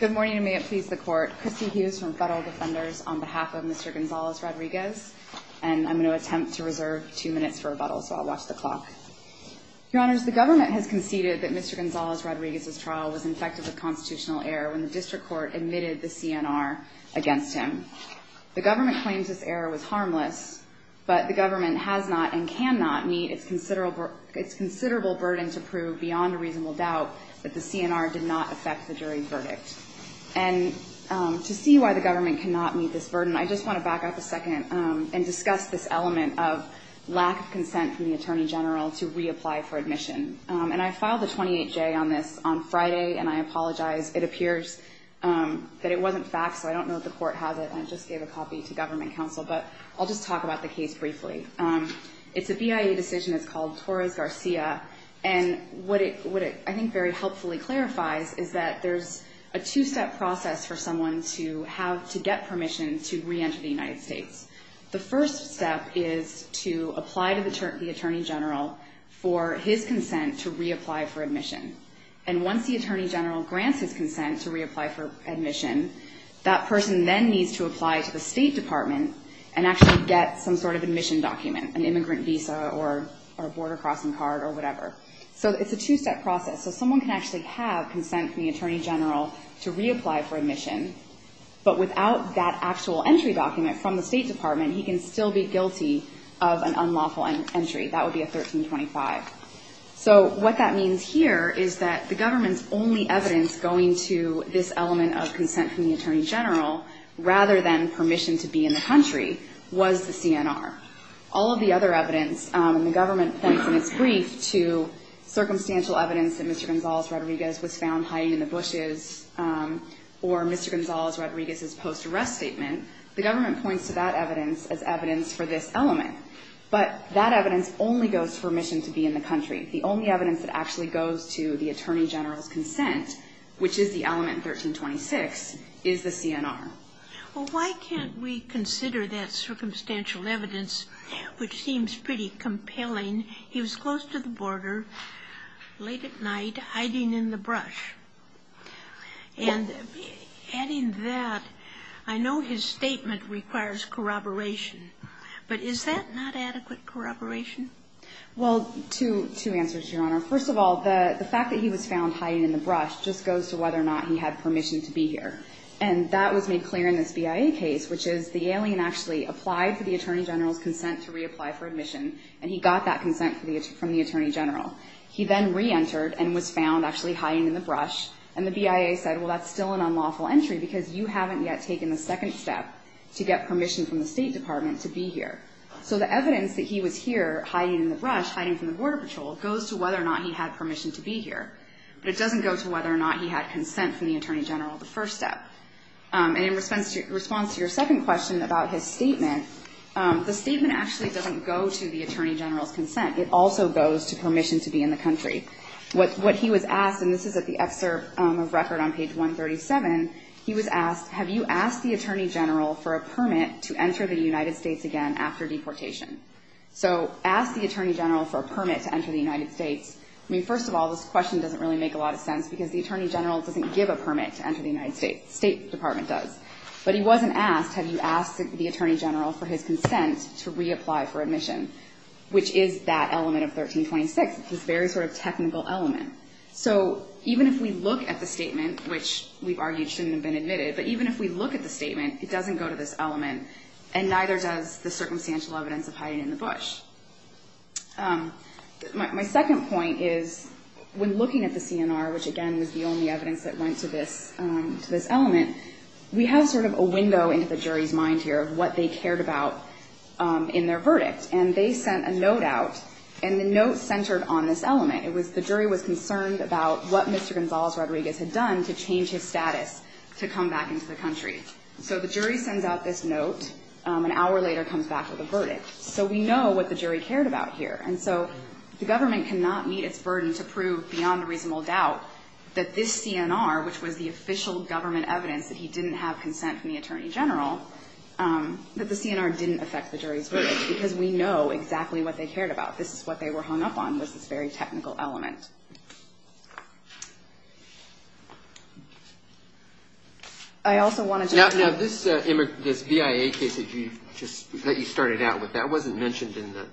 Good morning, and may it please the Court. Christy Hughes from Federal Defenders on behalf of Mr. Gonzalez-Rodriguez. And I'm going to attempt to reserve two minutes for rebuttal, so I'll watch the clock. Your Honors, the government has conceded that Mr. Gonzalez-Rodriguez's trial was infective of constitutional error when the District Court admitted the CNR against him. The government claims this error was harmless, but the government has not and cannot meet its considerable burden to prove beyond a reasonable doubt that the CNR did not affect the jury's verdict. And to see why the government cannot meet this burden, I just want to back up a second and discuss this element of lack of consent from the Attorney General to reapply for admission. And I filed a 28-J on this on Friday, and I apologize. It appears that it wasn't faxed, so I don't know if the Court has it. I just gave a copy to Government Counsel, but I'll just talk about the case briefly. It's a BIA decision. It's called Torres-Garcia. And what it, I think, very helpfully clarifies is that there's a two-step process for someone to get permission to reenter the United States. The first step is to apply to the Attorney General for his consent to reapply for admission. And once the Attorney General grants his consent to reapply for admission, that person then needs to apply to the State Department and actually get some sort of admission document, an immigrant visa or a border crossing card or whatever. So it's a two-step process. So someone can actually have consent from the Attorney General to reapply for admission, but without that actual entry document from the State Department, he can still be guilty of an unlawful entry. That would be a 1325. So what that means here is that the government's only evidence going to this element of consent from the Attorney General rather than permission to be in the country was the CNR. All of the other evidence, and the government points in its brief to circumstantial evidence that Mr. Gonzales-Rodriguez was found hiding in the bushes or Mr. Gonzales-Rodriguez's post-arrest statement, the government points to that evidence as evidence for this element. But that evidence only goes to permission to be in the country. The only evidence that actually goes to the Attorney General's consent, which is the element 1326, is the CNR. Well, why can't we consider that circumstantial evidence, which seems pretty compelling? He was close to the border late at night hiding in the brush. And adding that, I know his statement requires corroboration. But is that not adequate corroboration? Well, two answers, Your Honor. First of all, the fact that he was found hiding in the brush just goes to whether or not he had permission to be here. And that was made clear in this BIA case, which is the alien actually applied for the Attorney General's consent to reapply for admission, and he got that consent from the Attorney General. He then reentered and was found actually hiding in the brush. And the BIA said, well, that's still an unlawful entry because you haven't yet taken the second step to get permission from the State Department to be here. So the evidence that he was here hiding in the brush, hiding from the Border Patrol, goes to whether or not he had permission to be here. But it doesn't go to whether or not he had consent from the Attorney General, the first step. And in response to your second question about his statement, the statement actually doesn't go to the Attorney General's consent. It also goes to permission to be in the country. What he was asked, and this is at the excerpt of record on page 137, he was asked, have you asked the Attorney General for a permit to enter the United States again after deportation? So ask the Attorney General for a permit to enter the United States. I mean, first of all, this question doesn't really make a lot of sense because the Attorney General doesn't give a permit to enter the United States. The State Department does. But he wasn't asked, have you asked the Attorney General for his consent to reapply for admission, which is that element of 1326, this very sort of technical element. So even if we look at the statement, which we've argued shouldn't have been admitted, but even if we look at the statement, it doesn't go to this element, and neither does the circumstantial evidence of hiding in the brush. My second point is when looking at the CNR, which, again, was the only evidence that went to this element, we have sort of a window into the jury's mind here of what they cared about in their verdict. And they sent a note out, and the note centered on this element. It was the jury was concerned about what Mr. Gonzales-Rodriguez had done to change his status to come back into the country. So the jury sends out this note. An hour later comes back with a verdict. So we know what the jury cared about here. And so the government cannot meet its burden to prove beyond reasonable doubt that this CNR, which was the official government evidence that he didn't have consent from the Attorney General, that the CNR didn't affect the jury's verdict. Because we know exactly what they cared about. This is what they were hung up on, was this very technical element. I also want to just say... That wasn't mentioned in the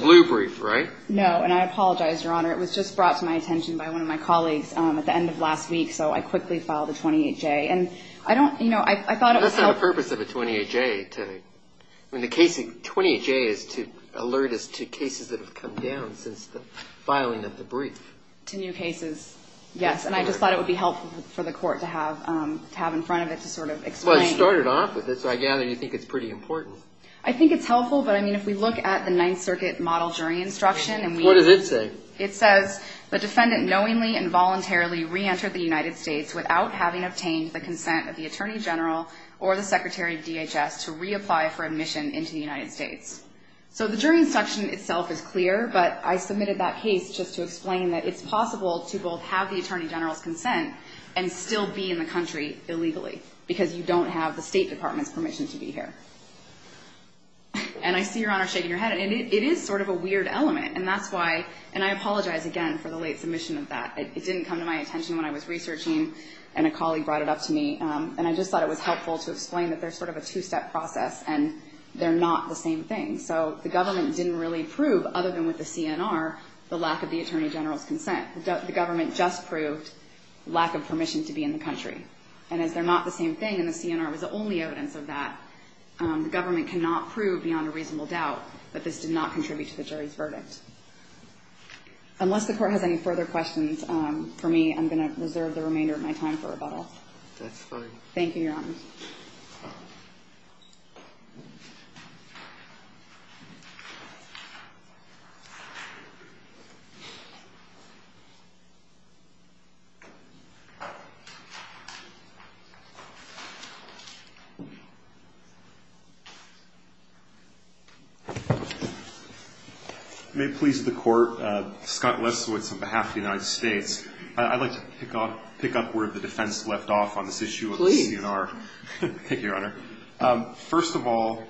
blue brief, right? No. And I apologize, Your Honor. It was just brought to my attention by one of my colleagues at the end of last week. So I quickly filed a 28-J. That's not the purpose of a 28-J. 28-J is to alert us to cases that have come down since the filing of the brief. To new cases. Yes. And I just thought it would be helpful for the court to have in front of it to sort of explain. You started off with it, so I gather you think it's pretty important. I think it's helpful, but I mean, if we look at the Ninth Circuit model jury instruction... What does it say? It says, the defendant knowingly and voluntarily reentered the United States without having obtained the consent of the Attorney General or the Secretary of DHS to reapply for admission into the United States. So the jury instruction itself is clear, but I submitted that case just to explain that it's possible to both have the Attorney General's consent and still be in the country illegally because you don't have the State Department's permission to be here. And I see Your Honor shaking her head. It is sort of a weird element, and that's why, and I apologize again for the late submission of that. It didn't come to my attention when I was researching, and a colleague brought it up to me. And I just thought it was helpful to explain that there's sort of a two-step process, and they're not the same thing. So the government didn't really prove, other than with the CNR, the lack of the Attorney General's consent. The government just proved lack of permission to be in the country. And as they're not the same thing, and the CNR was the only evidence of that, the government cannot prove beyond a reasonable doubt that this did not contribute to the jury's verdict. Unless the Court has any further questions for me, I'm going to reserve the remainder of my time for rebuttal. That's fine. Thank you, Your Honor. May it please the Court, Scott Lesowitz on behalf of the United States. I'd like to pick up where the defense left off on this issue of the CNR. Thank you, Your Honor. First of all,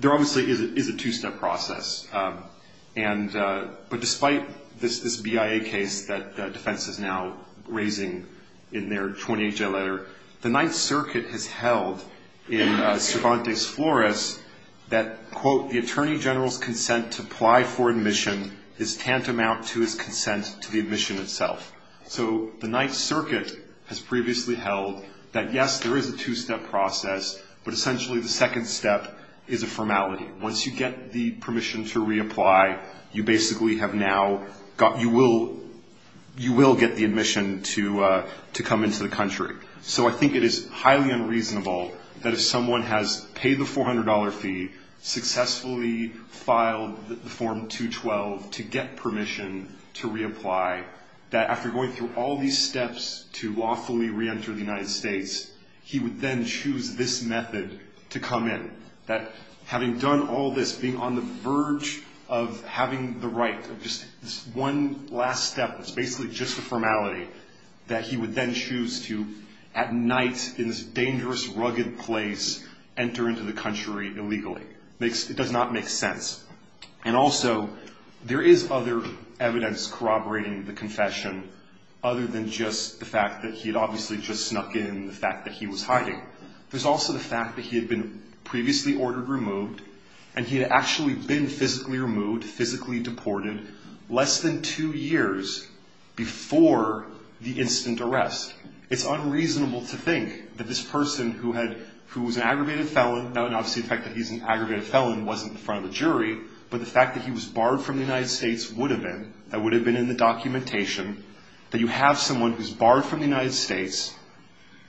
there obviously is a two-step process. But despite this BIA case that defense is now raising in their 28-J letter, the Ninth Circuit has held in Cervantes Flores that, quote, the Attorney General's consent to apply for admission is tantamount to his consent to the admission itself. So the Ninth Circuit has previously held that, yes, there is a two-step process, but essentially the second step is a formality. Once you get the permission to reapply, you basically have now got, you will get the admission to come into the country. So I think it is highly unreasonable that if someone has paid the $400 fee, successfully filed the Form 212 to get permission to reapply, that after going through all these steps to lawfully reenter the United States, he would then choose this method to come in. That having done all this, being on the verge of having the right of just this one last step that's basically just a formality, that he would then choose to, at night, in this dangerous, rugged place, enter into the country illegally. It does not make sense. And also, there is other evidence corroborating the confession other than just the fact that he had obviously just snuck in, the fact that he was hiding. There's also the fact that he had been previously ordered removed, and he had actually been physically removed, physically deported, less than two years before the instant arrest. It's unreasonable to think that this person who was an aggravated felon, and obviously the fact that he's an aggravated felon wasn't in front of the jury, but the fact that he was barred from the United States would have been, that would have been in the documentation, that you have someone who's barred from the United States,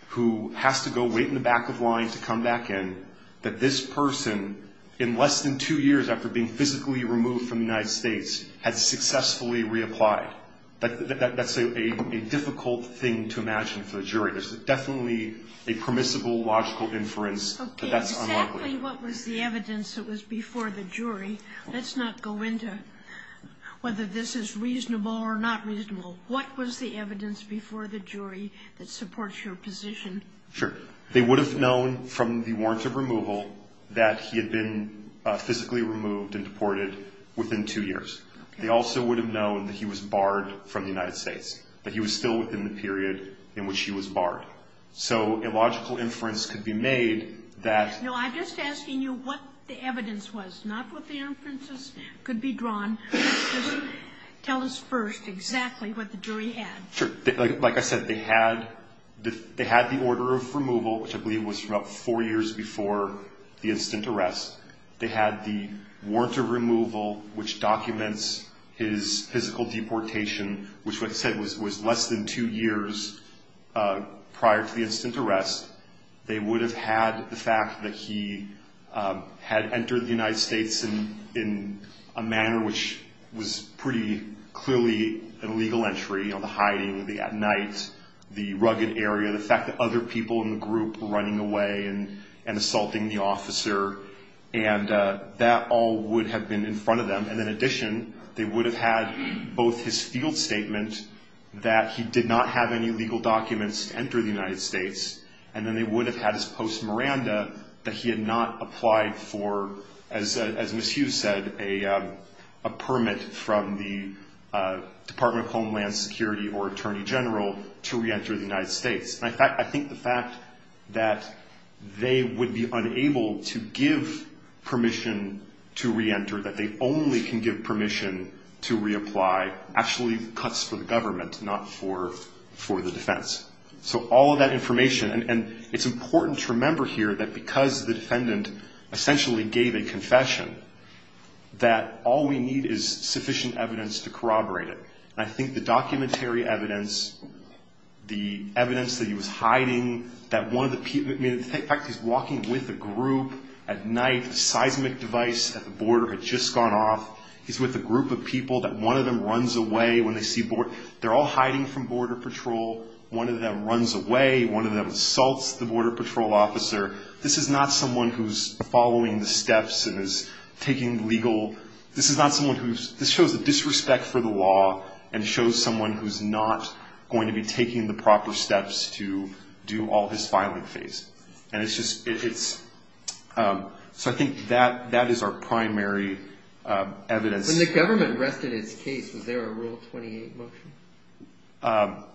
who has to go wait in the back of line to come back in, that this person, in less than two years after being physically removed from the United States, had successfully reapplied. That's a difficult thing to imagine for the jury. There's definitely a permissible, logical inference that that's unlikely. Exactly what was the evidence that was before the jury. Let's not go into whether this is reasonable or not reasonable. What was the evidence before the jury that supports your position? Sure. They would have known from the warrant of removal that he had been physically removed and deported within two years. They also would have known that he was barred from the United States, that he was still within the period in which he was barred. So a logical inference could be made that... No, I'm just asking you what the evidence was, not what the inferences could be drawn. Tell us first exactly what the jury had. Sure. Like I said, they had the order of removal, which I believe was from about four years before the instant arrest. They had the warrant of removal, which documents his physical deportation, which, like I said, was less than two years prior to the instant arrest. They would have had the fact that he had entered the United States in a manner which was pretty clearly an illegal entry, the hiding, the at night, the rugged area, the fact that other people in the group were running away and assaulting the officer. And that all would have been in front of them. And in addition, they would have had both his field statement that he did not have any legal documents to enter the United States. And then they would have had his post Miranda that he had not applied for, as Ms. Hughes said, a permit from the Department of Homeland Security or Attorney General to reenter the United States. And I think the fact that they would be unable to give permission to reenter, that they only can give permission to reapply, actually cuts for the government, not for the defense. So all of that information, and it's important to remember here that because the defendant essentially gave a confession, that all we need is sufficient evidence to corroborate it. And I think the documentary evidence, the evidence that he was hiding, the fact that he's walking with a group at night, a seismic device at the border had just gone off, he's with a group of people, that one of them runs away when they see border, they're all hiding from border patrol, one of them runs away, one of them assaults the border patrol officer. This is not someone who's following the steps and is taking legal, this is not someone who's, this shows a disrespect for the law and shows someone who's not going to be taking the proper steps to do all his filing phase. And it's just, so I think that is our primary evidence. When the government rested its case, was there a Rule 28 motion?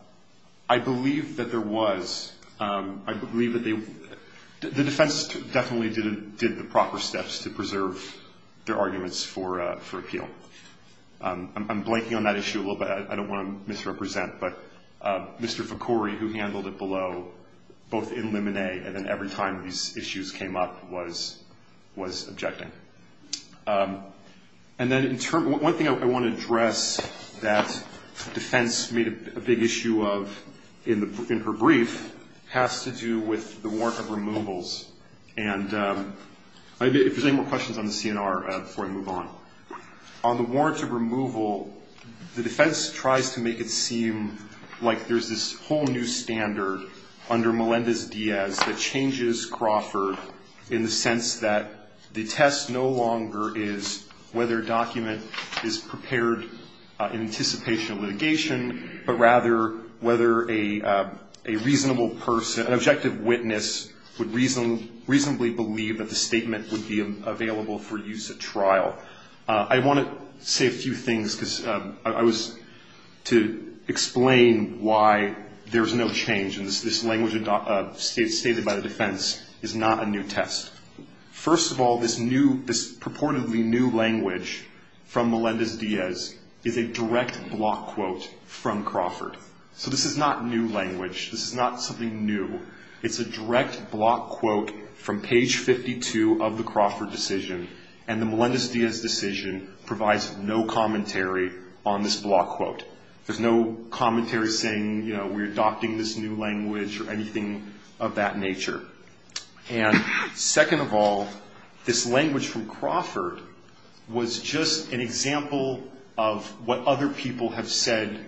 I believe that there was. I believe that they, the defense definitely did the proper steps to preserve their arguments for appeal. I'm blanking on that issue a little bit, I don't want to misrepresent, but Mr. Ficori, who handled it below, both in limine, and then every time these issues came up, was objecting. And then one thing I want to address that defense made a big issue of in her brief, has to do with the warrant of removals. And if there's any more questions on the CNR before I move on. On the warrant of removal, the defense tries to make it seem like there's this whole new standard under Melendez-Diaz that changes Crawford in the sense that the test no longer is whether a document is prepared in anticipation of litigation, but rather whether a reasonable person, an objective witness, would reasonably believe that the statement would be available for use at trial. I want to say a few things, because I was to explain why there's no change, and this language stated by the defense is not a new test. First of all, this new, this purportedly new language from Melendez-Diaz is a direct block quote from Crawford. So this is not new language. This is not something new. It's a direct block quote from page 52 of the Crawford decision, and the Melendez-Diaz decision provides no commentary on this block quote. There's no commentary saying, you know, we're adopting this new language or anything of that nature. And second of all, this language from Crawford was just an example of what other people have said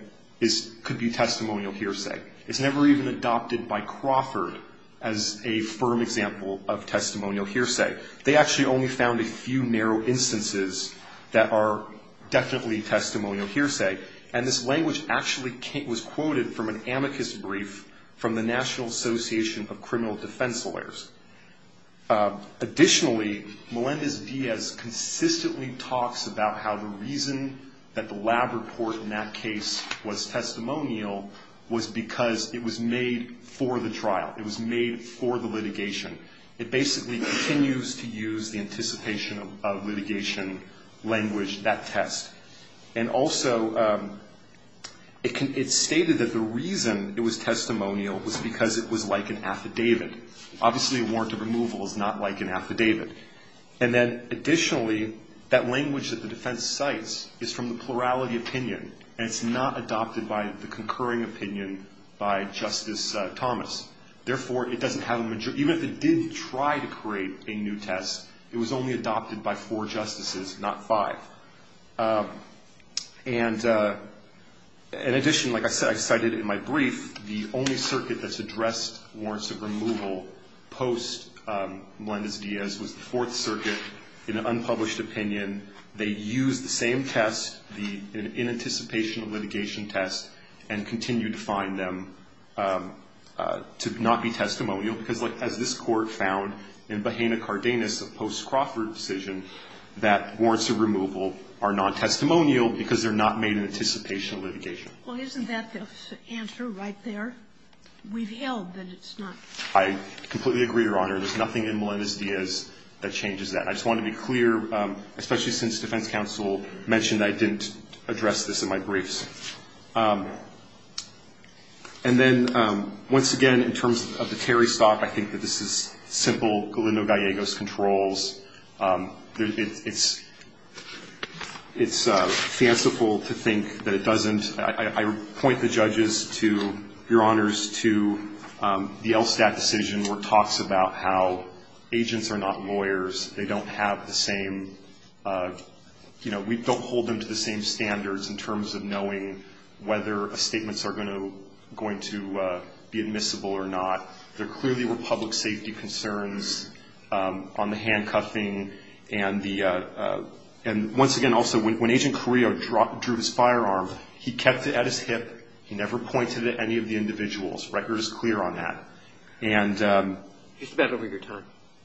could be testimonial hearsay. It's never even adopted by Crawford as a firm example of testimonial hearsay. They actually only found a few narrow instances that are definitely testimonial hearsay, and this language actually was quoted from an amicus brief from the National Association of Criminal Defense Lawyers. Additionally, Melendez-Diaz consistently talks about how the reason that the lab report now in that case was testimonial was because it was made for the trial. It was made for the litigation. It basically continues to use the anticipation of litigation language, that test. And also, it stated that the reason it was testimonial was because it was like an affidavit. Obviously, a warrant of removal is not like an affidavit. And then additionally, that language that the defense cites is from the plurality opinion, and it's not adopted by the concurring opinion by Justice Thomas. Therefore, it doesn't have a majority. Even if it did try to create a new test, it was only adopted by four justices, not five. And in addition, like I said, I cited in my brief, the only circuit that's addressed warrants of removal post-Melendez-Diaz was the Fourth Circuit in an unpublished opinion. They used the same test, the inanticipation of litigation test, and continue to find them to not be testimonial, because, like, as this Court found in Bahena-Cardenas, a post-Crawford decision, that warrants of removal are non-testimonial Well, isn't that the answer right there? We've held that it's not. I completely agree, Your Honor. There's nothing in Melendez-Diaz that changes that. I just wanted to be clear, especially since defense counsel mentioned I didn't address this in my briefs. And then, once again, in terms of the Terry stock, I think that this is simple Galindo-Gallegos controls. It's fanciful to think that it doesn't. I point the judges to, Your Honors, to the LSTAT decision where it talks about how agents are not lawyers. They don't have the same, you know, we don't hold them to the same standards in terms of knowing whether statements are going to be admissible or not. There clearly were public safety concerns on the handcuffing. And once again, also, when Agent Carrillo drew his firearm, he kept it at his hip. He never pointed it at any of the individuals. The record is clear on that. You're just about over your time.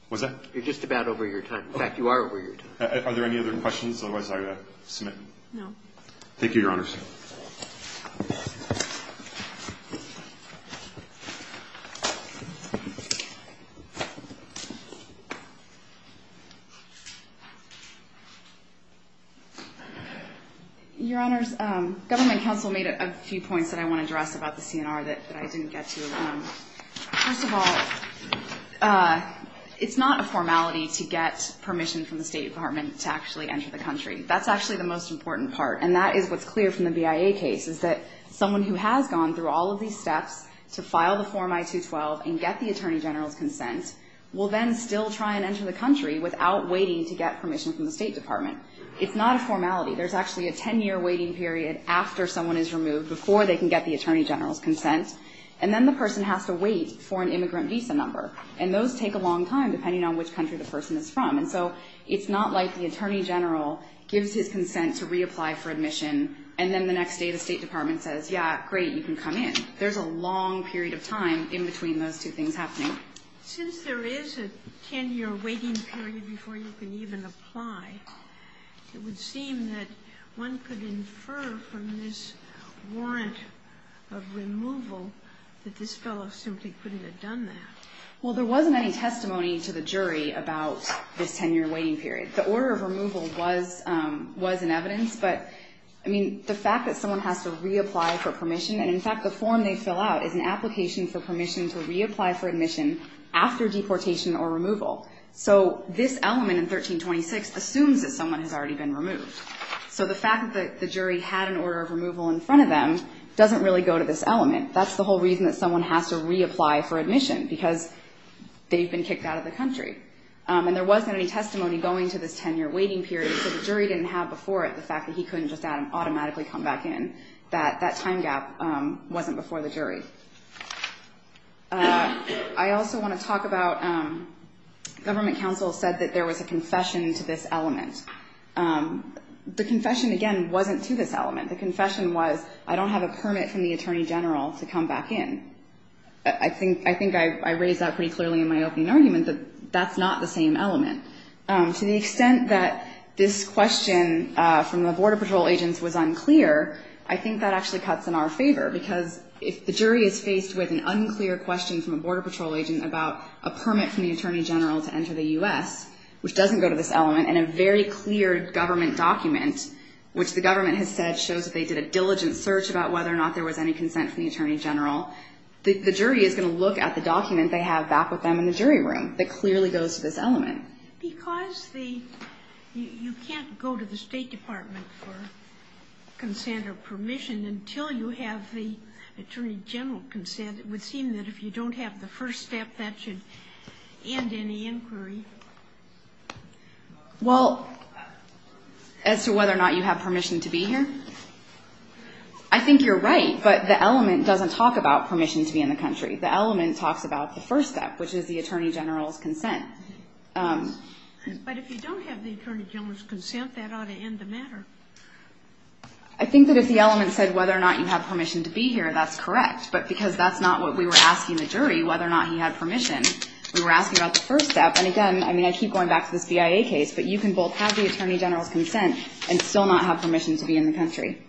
Was I? You're just about over your time. In fact, you are over your time. Are there any other questions? Otherwise, I will submit. No. Thank you, Your Honors. Your Honors, Government Counsel made a few points that I want to address about the CNR that I didn't get to. First of all, it's not a formality to get permission from the State Department to actually enter the country. That's actually the most important part. And that is what's clear from the BIA case, is that someone who has gone through all of these steps to file the Form I-212 and get the Attorney General's consent will then still try and enter the country without waiting to get permission from the State Department. It's not a formality. There's actually a 10-year waiting period after someone is removed before they can get the Attorney General's consent. And then the person has to wait for an immigrant visa number. And those take a long time, depending on which country the person is from. And so it's not like the Attorney General gives his consent to reapply for admission, and then the next day the State Department says, yeah, great, you can come in. There's a long period of time in between those two things happening. Since there is a 10-year waiting period before you can even apply, it would seem that one could infer from this warrant of removal that this fellow simply couldn't have done that. Well, there wasn't any testimony to the jury about this 10-year waiting period. The order of removal was in evidence, but, I mean, the fact that someone has to reapply for permission, and in fact the form they fill out is an application for permission to reapply for admission after deportation or removal. So this element in 1326 assumes that someone has already been removed. So the fact that the jury had an order of removal in front of them doesn't really go to this element. That's the whole reason that someone has to reapply for admission, because they've been kicked out of the country. And there wasn't any testimony going to this 10-year waiting period, so the jury didn't have before it the fact that he couldn't just automatically come back in. That time gap wasn't before the jury. I also want to talk about government counsel said that there was a confession to this element. The confession, again, wasn't to this element. The confession was, I don't have a permit from the attorney general to come back in. I think I raised that pretty clearly in my opening argument that that's not the same element. To the extent that this question from the Border Patrol agents was unclear, I think that actually cuts in our favor, because if the jury is faced with an unclear question from a Border Patrol agent about a permit from the attorney general to enter the U.S., which doesn't go to this element, and a very clear government document, which the government has said shows that they did a diligent search about whether or not there was any consent from the attorney general, the jury is going to look at the document they have back with them in the jury room that clearly goes to this element. Because you can't go to the State Department for consent or permission until you have the attorney general consent. It would seem that if you don't have the first step, that should end any inquiry. Well, as to whether or not you have permission to be here, I think you're right, but the element doesn't talk about permission to be in the country. The element talks about the first step, which is the attorney general's consent. But if you don't have the attorney general's consent, that ought to end the matter. I think that if the element said whether or not you have permission to be here, that's correct, but because that's not what we were asking the jury, whether or not he had permission, we were asking about the first step. And again, I mean, I keep going back to this BIA case, but you can both have the attorney general's consent and still not have permission to be in the country.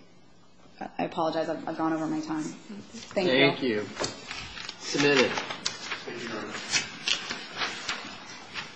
I apologize. I've gone over my time. Thank you. Thank you. Submit it.